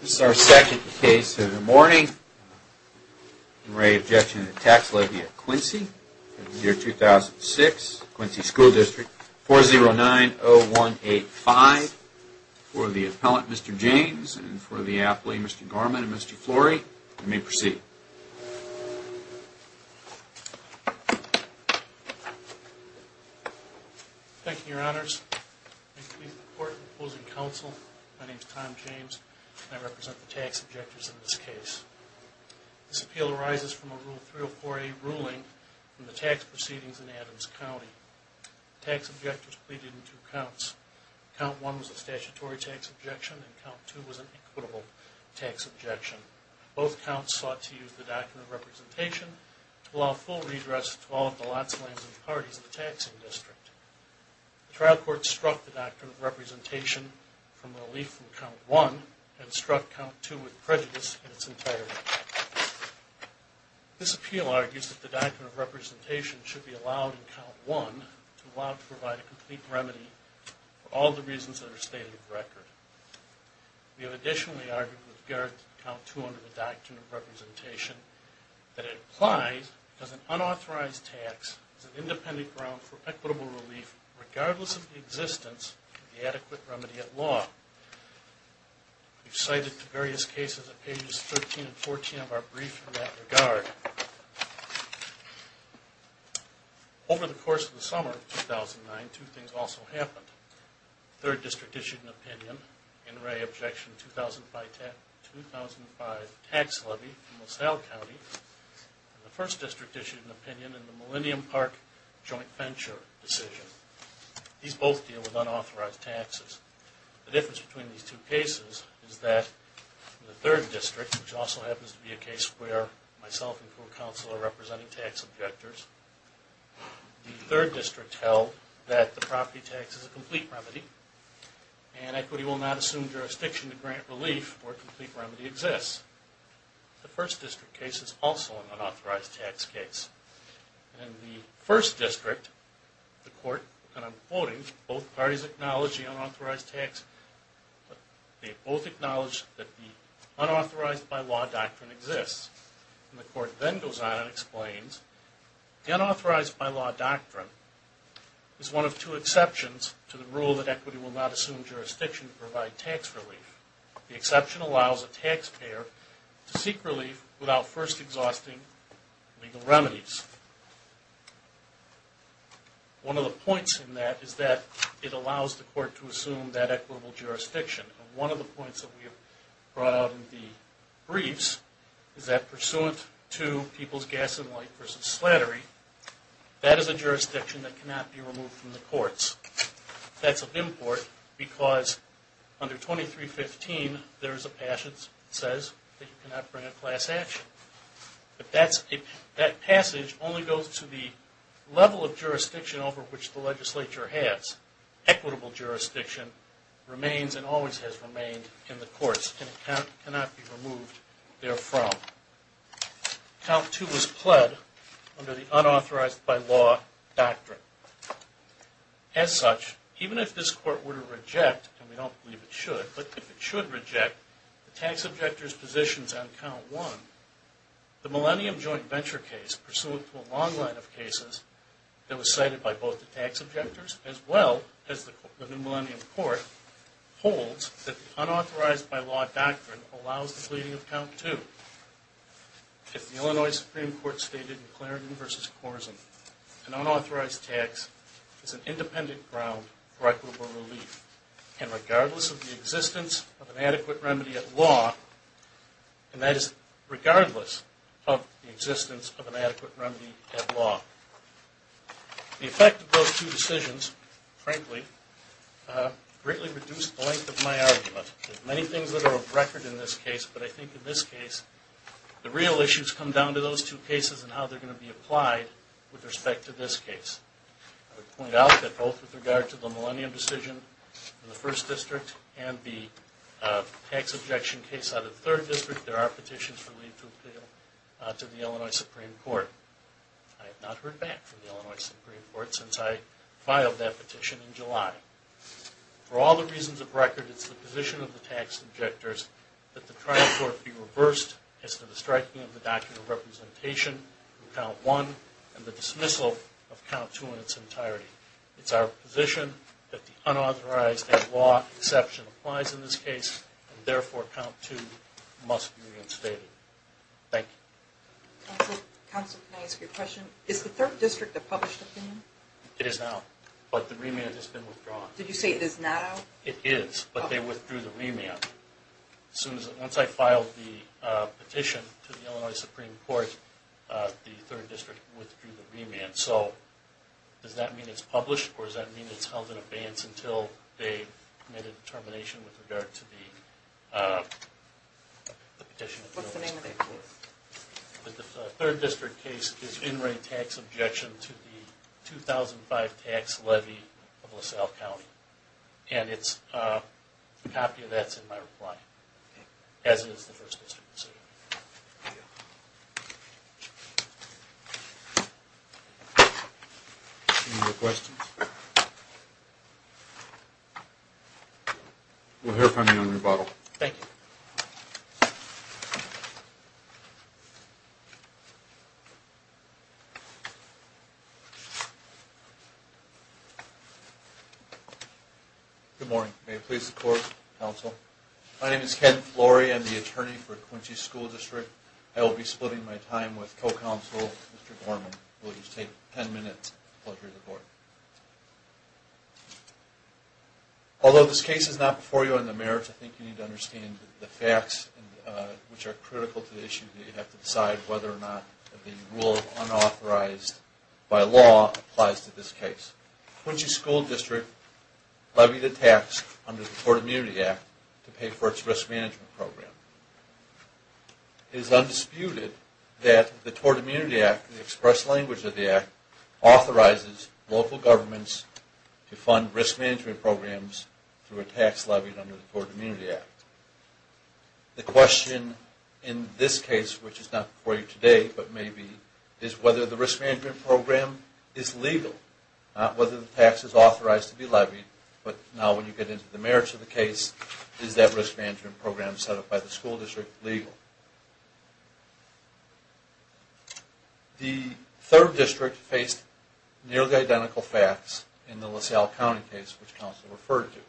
This is our second case of the morning. In re. Objection to Tax Levy of Quincy for the year 2006, Quincy S.D. 4090185 for the appellant Mr. James and for the athlete Mr. Garman and Mr. Flory. You may proceed. Thank you, your honors. Thank you to the court and opposing counsel. My name is Tom James and I represent the tax objectors in this case. This appeal arises from a Rule 304A ruling from the tax proceedings in Adams County. Tax objectors pleaded in two counts. Count 1 was a statutory tax objection and Count 2 was an equitable tax objection. Both counts sought to use the Doctrine of Representation to allow full redress to all of the lots, lands and parties in the taxing district. The trial court struck the Doctrine of Representation from relief from Count 1 and struck Count 2 with prejudice in its integrity. This appeal argues that the Doctrine of Representation should be allowed in Count 1 to allow to provide a complete remedy for all the reasons that are stated in the record. We have additionally argued with regard to Count 2 under the Doctrine of Representation that it applies as an unauthorized tax as an independent ground for equitable relief regardless of the existence of the adequate remedy at law. We've cited the various cases at pages 13 and 14 of our brief in that regard. Over the course of the summer of 2009, two things also happened. The 3rd District issued an opinion in Ray Objection 2005 Tax Levy in LaSalle County and the 1st District issued an opinion in the Millennium Park Joint Venture decision. These both deal with unauthorized taxes. The difference between these two cases is that in the 3rd District, which also happens to be a case where myself and court counsel are representing tax objectors, the 3rd District held that the property tax is a complete remedy and equity will not assume jurisdiction to grant relief where a complete remedy exists. The 1st District case is also an unauthorized tax case. In the 1st District, the court, and I'm quoting, both parties acknowledge the unauthorized tax. They both acknowledge that the unauthorized by law doctrine exists. The court then goes on and explains, the unauthorized by law doctrine is one of two exceptions to the rule that equity will not assume jurisdiction to provide tax relief. The exception allows a taxpayer to seek relief without first exhausting legal remedies. One of the points in that is that it allows the court to assume that equitable jurisdiction. One of the points that we have brought out in the briefs is that pursuant to People's Gas and Light v. Slattery, that is a jurisdiction that cannot be removed from the courts. That's of import because under 2315 there is a passage that says that you cannot bring a class action. That passage only goes to the level of jurisdiction over which the legislature has. Equitable jurisdiction remains and always has remained in the courts and cannot be removed there from. Count 2 was pled under the unauthorized by law doctrine. As such, even if this court were to reject, and we don't believe it should, but if it should reject the tax objector's positions on Count 1, the Millennium Joint Venture case, pursuant to a long line of cases that was cited by both the tax objectors as well as the New Millennium Court, holds that the unauthorized by law doctrine allows the pleading of Count 2. If the Illinois Supreme Court stated in Clarendon v. Korzen, an unauthorized tax is an independent ground for equitable relief, and regardless of the existence of an adequate remedy at law, and that is regardless of the existence of an adequate remedy at law, the effect of those two decisions, frankly, greatly reduced the length of my argument. There are many things that are of record in this case, but I think in this case the real issues come down to those two cases and how they're going to be applied with respect to this case. I would point out that both with regard to the Millennium decision in the 1st District and the tax objection case out of the 3rd District, there are petitions for leave to appeal to the Illinois Supreme Court. I have not heard back from the Illinois Supreme Court since I filed that petition in July. For all the reasons of record, it's the position of the tax objectors that the trial court be reversed as to the striking of the doctrine of representation of Count 1 and the dismissal of Count 2 in its entirety. It's our position that the unauthorized by law exception applies in this case, and therefore Count 2 must be reinstated. Thank you. Counsel, can I ask you a question? Is the 3rd District a published opinion? It is now, but the remand has been withdrawn. Did you say it is now? It is, but they withdrew the remand. Once I filed the petition to the Illinois Supreme Court, the 3rd District withdrew the remand. So does that mean it's published, or does that mean it's held in abeyance until they make a determination with regard to the petition? What's the name of the case? The 3rd District case is in re tax objection to the 2005 tax levy of LaSalle County, and a copy of that is in my reply, as is the 1st District. Any other questions? We'll hear from you on rebuttal. Thank you. Good morning. May it please the Court, Counsel. My name is Ken Flory. I'm the attorney for Quincy School District. I will be splitting my time with co-counsel, Mr. Gorman. It will just take 10 minutes. Pleasure of the board. Although this case is not before you on the merits, I think you need to understand the facts, which are critical to the issue. You have to decide whether or not the rule unauthorized by law applies to this case. Quincy School District levied a tax under the Tort Immunity Act to pay for its risk management program. It is undisputed that the Tort Immunity Act, the express language of the Act, authorizes local governments to fund risk management programs through a tax levied under the Tort Immunity Act. The question in this case, which is not before you today, but may be, is whether the risk management program is legal. Not whether the tax is authorized to be levied, but now when you get into the merits of the case, is that risk management program set up by the school district legal? The third district faced nearly identical facts in the LaSalle County case, which counsel referred to.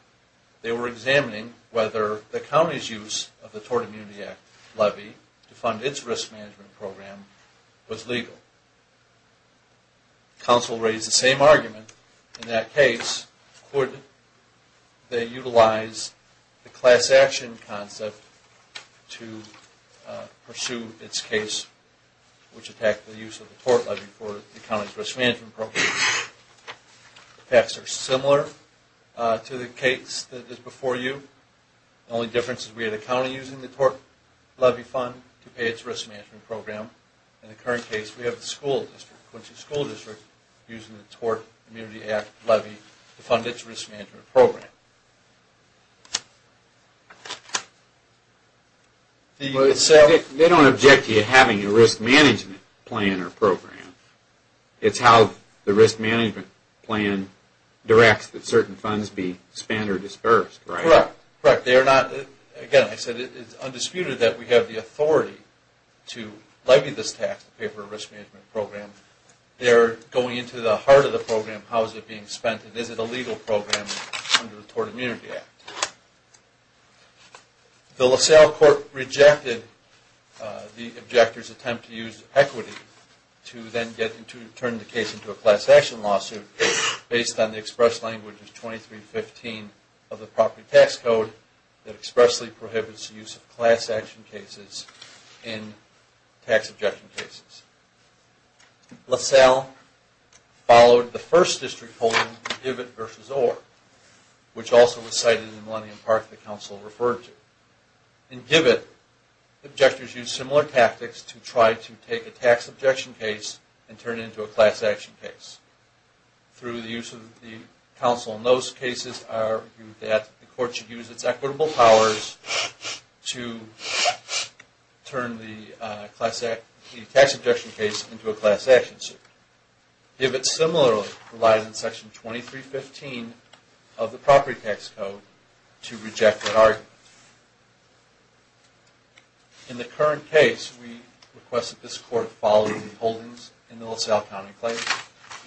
They were examining whether the county's use of the Tort Immunity Act levy to fund its risk management program was legal. Counsel raised the same argument. In that case, could they utilize the class action concept to pursue its case, which attacked the use of the tort levy for the county's risk management program? The facts are similar to the case that is before you. The only difference is we had a county using the tort levy fund to pay its risk management program. In the current case, we have the school district, Quincy School District, using the Tort Immunity Act levy to fund its risk management program. They don't object to you having a risk management plan or program. It's how the risk management plan directs that certain funds be spent or disbursed, right? Correct. Again, I said it's undisputed that we have the authority to levy this tax to pay for a risk management program. They're going into the heart of the program, how is it being spent, and is it a legal program under the Tort Immunity Act? The LaSalle court rejected the objector's attempt to use equity to then turn the case into a class action lawsuit based on the express language of 2315 of the property tax code that expressly prohibits the use of class action cases in tax objection cases. LaSalle followed the first district holding, Gibbett v. Orr, which also was cited in the Millennium Park that counsel referred to. In Gibbett, the objectors used similar tactics to try to take a tax objection case and turn it into a class action case. Through the use of the counsel in those cases, I argue that the court should use its equitable powers to turn the tax objection case into a class action suit. Gibbett similarly relies on Section 2315 of the property tax code to reject that argument. In the current case, we request that this court follow the holdings in the LaSalle County Claims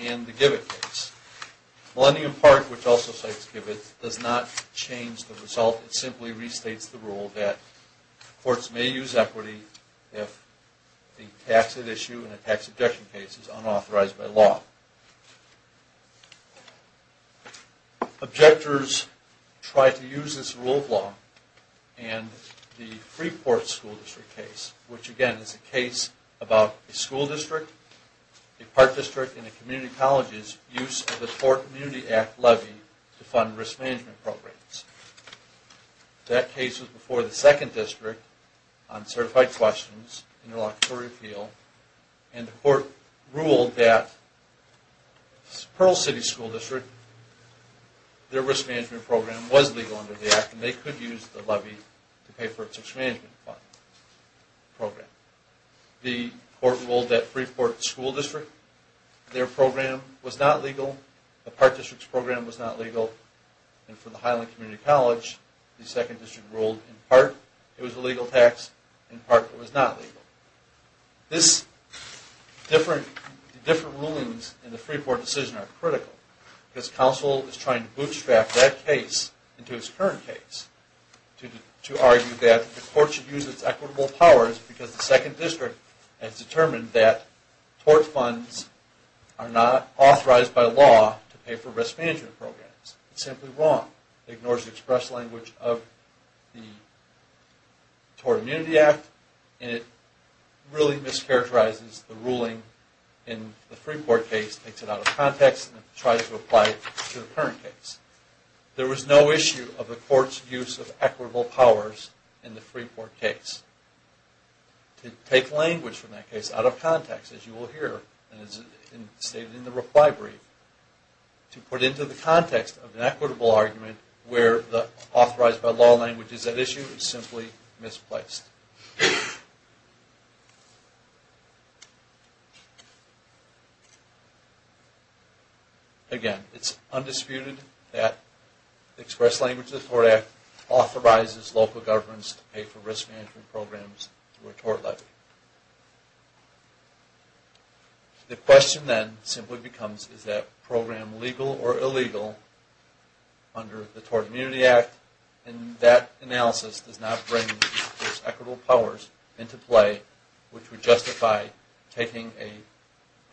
and the Gibbett case. Millennium Park, which also cites Gibbett, does not change the result. It simply restates the rule that courts may use equity if the taxed issue in a tax objection case is unauthorized by law. Objectors tried to use this rule of law in the Freeport School District case, which again is a case about a school district, a park district, and a community college's use of the Tort Community Act levy to fund risk management programs. That case was before the second district on certified questions in their locatory appeal, and the court ruled that Pearl City School District, their risk management program was legal under the Act, and they could use the levy to pay for its risk management program. The court ruled that Freeport School District, their program was not legal, the park district's program was not legal, and for the Highland Community College, the second district ruled in part it was a legal tax, in part it was not legal. These different rulings in the Freeport decision are critical because counsel is trying to bootstrap that case into its current case to argue that the court should use its equitable powers because the second district has determined that tort funds are not authorized by law to pay for risk management programs. It's simply wrong. It ignores the express language of the Tort Community Act, and it really mischaracterizes the ruling in the Freeport case, takes it out of context, and tries to apply it to the current case. There was no issue of the court's use of equitable powers in the Freeport case. To take language from that case out of context, as you will hear in the reply brief, to put it into the context of an equitable argument where the authorized by law language is at issue is simply misplaced. Again, it's undisputed that the express language of the Tort Act authorizes local governments to pay for risk management programs through a tort levy. The question then simply becomes, is that program legal or illegal under the Tort Community Act? And that analysis does not bring its equitable powers into play, which would justify taking a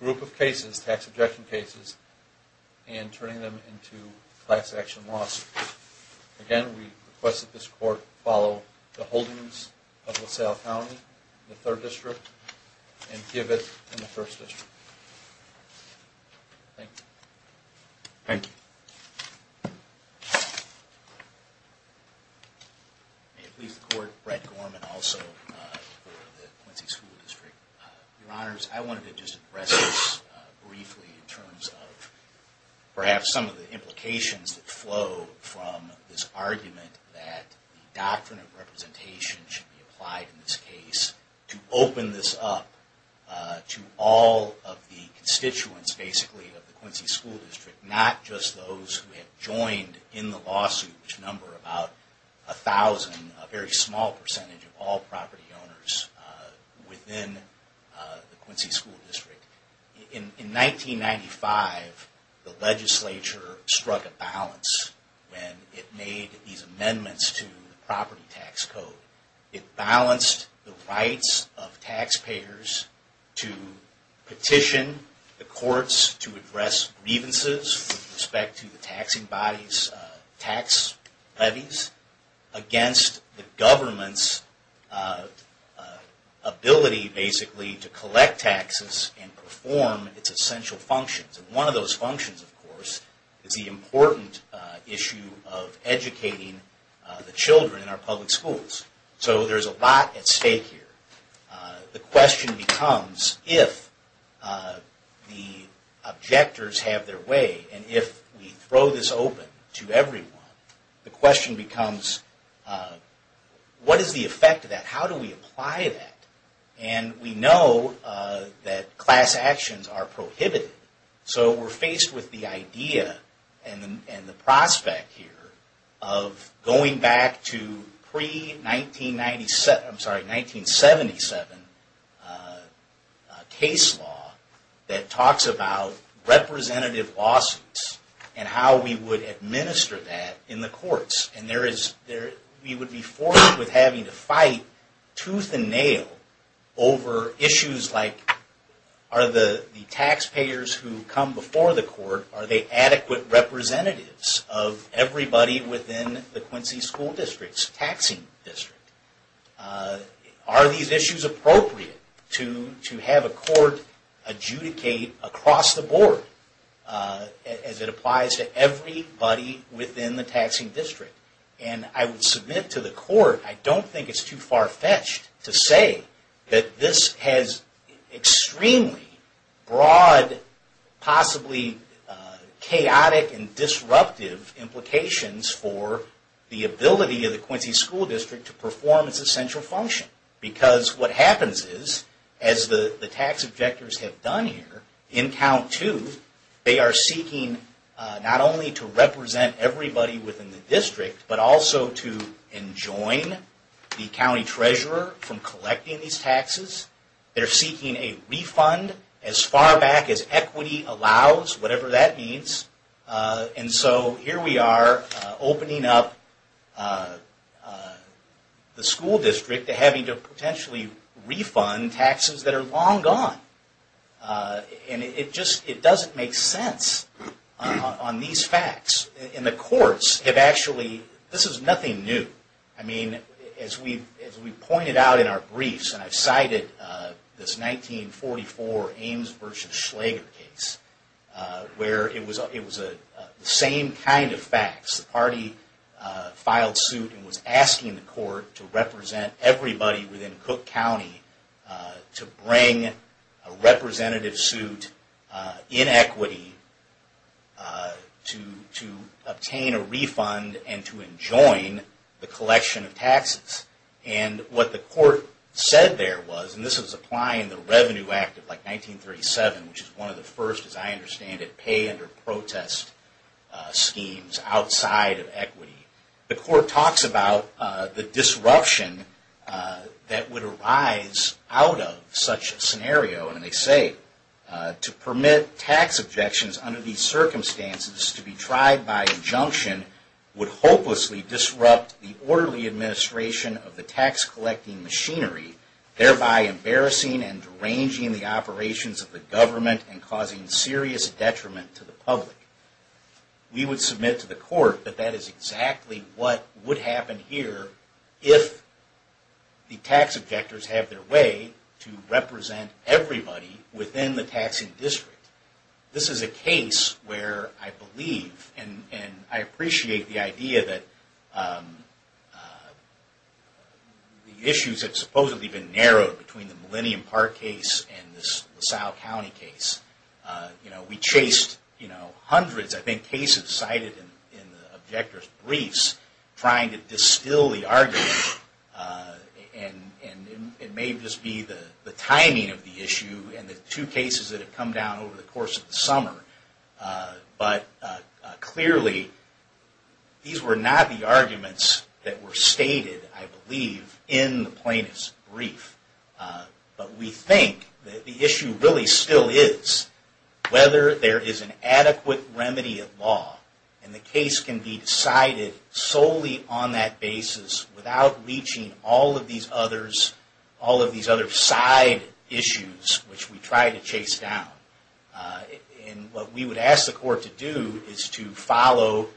group of cases, tax objection cases, and turning them into class action lawsuits. Again, we request that this court follow the holdings of LaSalle County, the 3rd District, and give it in the 1st District. Thank you. May it please the Court, Brett Gorman, also the Quincy School District. Your Honors, I wanted to just address this briefly in terms of perhaps some of the implications that flow from this argument that the doctrine of representation should be applied in this case to open this up to all of the constituents, basically, of the Quincy School District. Not just those who have joined in the lawsuit, which number about 1,000, a very small percentage of all property owners within the Quincy School District. In 1995, the legislature struck a balance when it made these amendments to the property tax code. It balanced the rights of taxpayers to petition the courts to address grievances with respect to the taxing bodies' tax levies against the government's ability, basically, to collect taxes and provide them. One of those functions, of course, is the important issue of educating the children in our public schools. So there's a lot at stake here. The question becomes, if the objectors have their way, and if we throw this open to everyone, the question becomes, what is the effect of that? How do we apply that? And we know that class actions are prohibited. So we're faced with the idea and the prospect here of going back to pre-1977 case law that talks about representative lawsuits and how we would administer that in the courts. And we would be forced with having to fight tooth and nail over issues like, are the taxpayers who come before the court, are they adequate representatives of everybody within the Quincy School District's taxing district? Are these issues appropriate to have a court adjudicate across the board, as it applies to everybody within the taxing district? And I would submit to the court, I don't think it's too far-fetched to say that this has extremely broad, possibly chaotic and disruptive implications for the ability of the Quincy School District to perform its duties. To perform its essential function. Because what happens is, as the tax objectors have done here, in count two, they are seeking not only to represent everybody within the district, but also to enjoin the county treasurer from collecting these taxes. They're seeking a refund as far back as equity allows, whatever that means. And so here we are, opening up the school district to having to potentially refund taxes that are long gone. And it doesn't make sense on these facts. And the courts have actually, this is nothing new. I mean, as we've pointed out in our briefs, and I've cited this 1944 Ames v. Schlager case, where it was the same kind of facts. The party filed suit and was asking the court to represent everybody within Cook County to bring a representative suit in equity to the district. To obtain a refund and to enjoin the collection of taxes. And what the court said there was, and this was applying the Revenue Act of like 1937, which is one of the first, as I understand it, pay under protest schemes outside of equity. The court talks about the disruption that would arise out of such a scenario. And they say, to permit tax objections under these circumstances to be tried by injunction would hopelessly disrupt the orderly administration of the tax collecting machinery, thereby embarrassing and deranging the operations of the government and causing serious detriment to the public. We would submit to the court that that is exactly what would happen here if the tax objectors have their way to represent everybody within the taxing district. This is a case where I believe, and I appreciate the idea that the issues have supposedly been narrowed between the Millennium Park case and this LaSalle County case. We chased hundreds, I think, cases cited in the objector's briefs trying to distill the argument. And it may just be the timing of the issue and the two cases that have come down over the course of the summer. But clearly, these were not the arguments that were stated, I believe, in the plaintiff's brief. But we think that the issue really still is whether there is an adequate remedy of law and the case can be decided solely on that basis without reaching all of these other side issues which we try to chase down. And what we would ask the court to do is to follow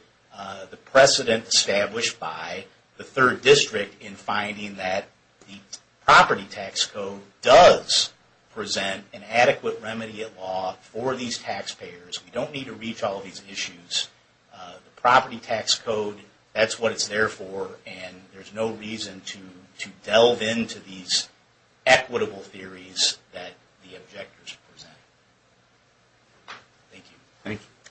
the precedent established by the third district in finding that the property tax code does present an adequate remedy of law for these taxpayers. We don't need to reach all of these issues. The property tax code, that's what it's there for and there's no reason to delve into these equitable theories that the objectors present. Thank you. Thank you. As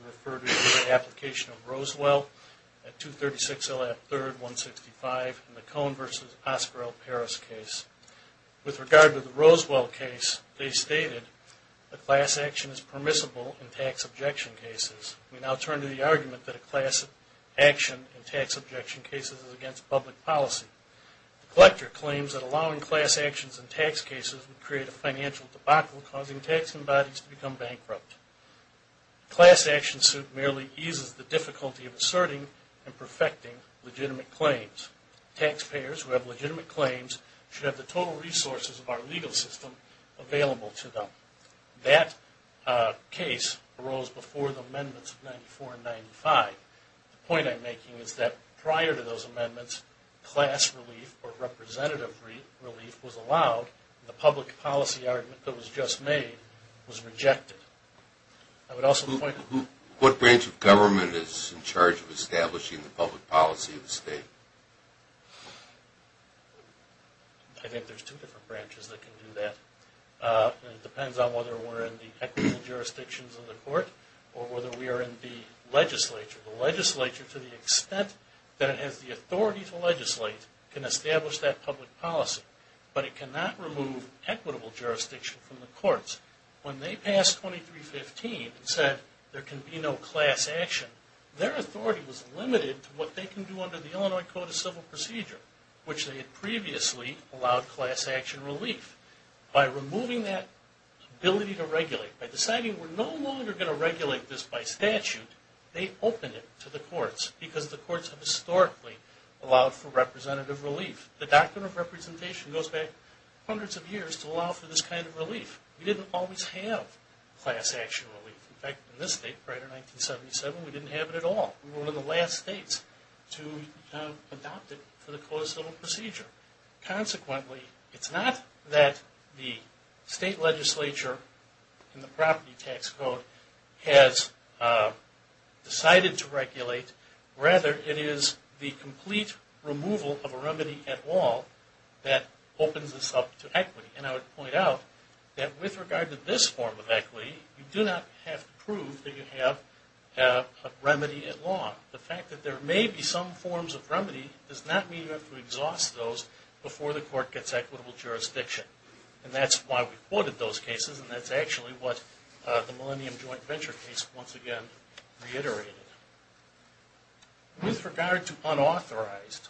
we refer to the application of Rosewell at 236 L.F. 3rd, 165 in the Cohn v. Oscar L. Parris case. With regard to the Rosewell case, they stated, the class action is permissible in tax objection cases. We now turn to the argument that a class action in tax objection cases is against public policy. The collector claims that allowing class actions in tax cases would create a financial debacle causing taxing bodies to become bankrupt. Class action suit merely eases the difficulty of asserting and perfecting legitimate claims. Taxpayers who have legitimate claims should have the total resources of our legal system available to them. That case arose before the amendments of 94 and 95. The point I'm making is that prior to those amendments, class relief or representative relief was allowed. The public policy argument that was just made was rejected. What branch of government is in charge of establishing the public policy of the state? I think there's two different branches that can do that. It depends on whether we're in the equitable jurisdictions of the court or whether we are in the legislature. The legislature, to the extent that it has the authority to legislate, can establish that public policy. But it cannot remove equitable jurisdiction from the courts. When they passed 2315 and said there can be no class action, their authority was limited to what they can do under the Illinois Code of Civil Procedure, which they had previously allowed class action relief. By removing that ability to regulate, by deciding we're no longer going to regulate this by statute, they opened it to the courts because the courts have historically allowed for representative relief. The Doctrine of Representation goes back hundreds of years to allow for this kind of relief. We didn't always have class action relief. In fact, in this state, prior to 1977, we didn't have it at all. We were one of the last states to adopt it to the Code of Civil Procedure. Consequently, it's not that the state legislature and the property tax code has decided to regulate. Rather, it is the complete removal of a remedy at law that opens this up to equity. And I would point out that with regard to this form of equity, you do not have to prove that you have a remedy at law. The fact that there may be some forms of remedy does not mean you have to exhaust those before the court gets equitable jurisdiction. And that's why we quoted those cases, and that's actually what the Millennium Joint Venture case once again reiterated. With regard to unauthorized,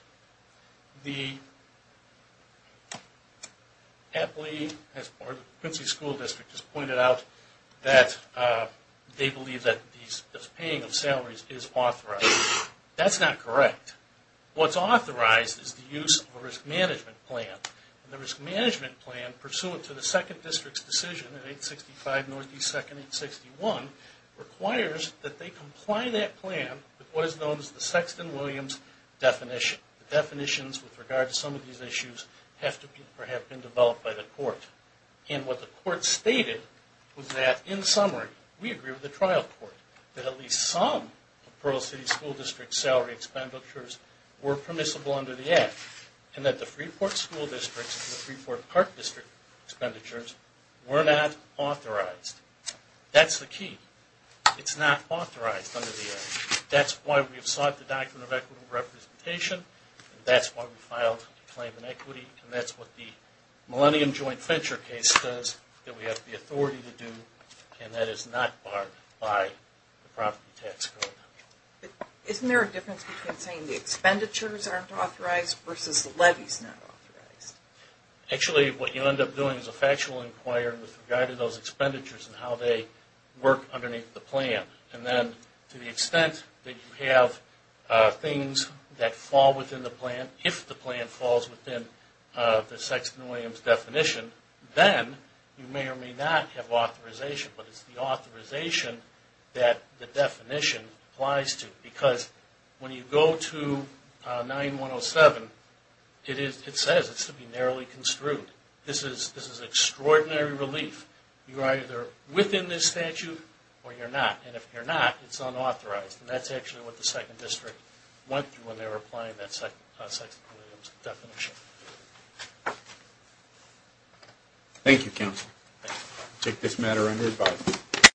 the Quincy School District has pointed out that they believe that the paying of salaries is authorized. That's not correct. What's authorized is the use of a risk management plan. And the risk management plan, pursuant to the 2nd District's decision in 865 North East 2nd, 861, requires that they comply that plan with what is known as the Sexton-Williams definition. The definitions with regard to some of these issues have been developed by the court. And what the court stated was that, in summary, we agree with the trial court that at least some of the Pearl City School District's salary expenditures were permissible under the Act, and that the Freeport School District's and the Freeport Park District's expenditures were not authorized. That's the key. It's not authorized under the Act. That's why we sought the Doctrine of Equitable Representation. That's why we filed the claim in equity. And that's what the Millennium Joint Venture case says that we have the authority to do, and that is not barred by the property tax code. But isn't there a difference between saying the expenditures aren't authorized versus the levies not authorized? Actually, what you end up doing is a factual inquiry with regard to those expenditures and how they work underneath the plan. And then, to the extent that you have things that fall within the plan, if the plan falls within the Sexton-Williams definition, then you may or may not have authorization. But it's the authorization that the definition applies to. Because when you go to 9107, it says it's to be narrowly construed. This is extraordinary relief. You're either within this statute or you're not. And if you're not, it's unauthorized. And that's actually what the Sexton District went through when they were applying that Sexton-Williams definition. Thank you, Counsel. I take this matter under advise.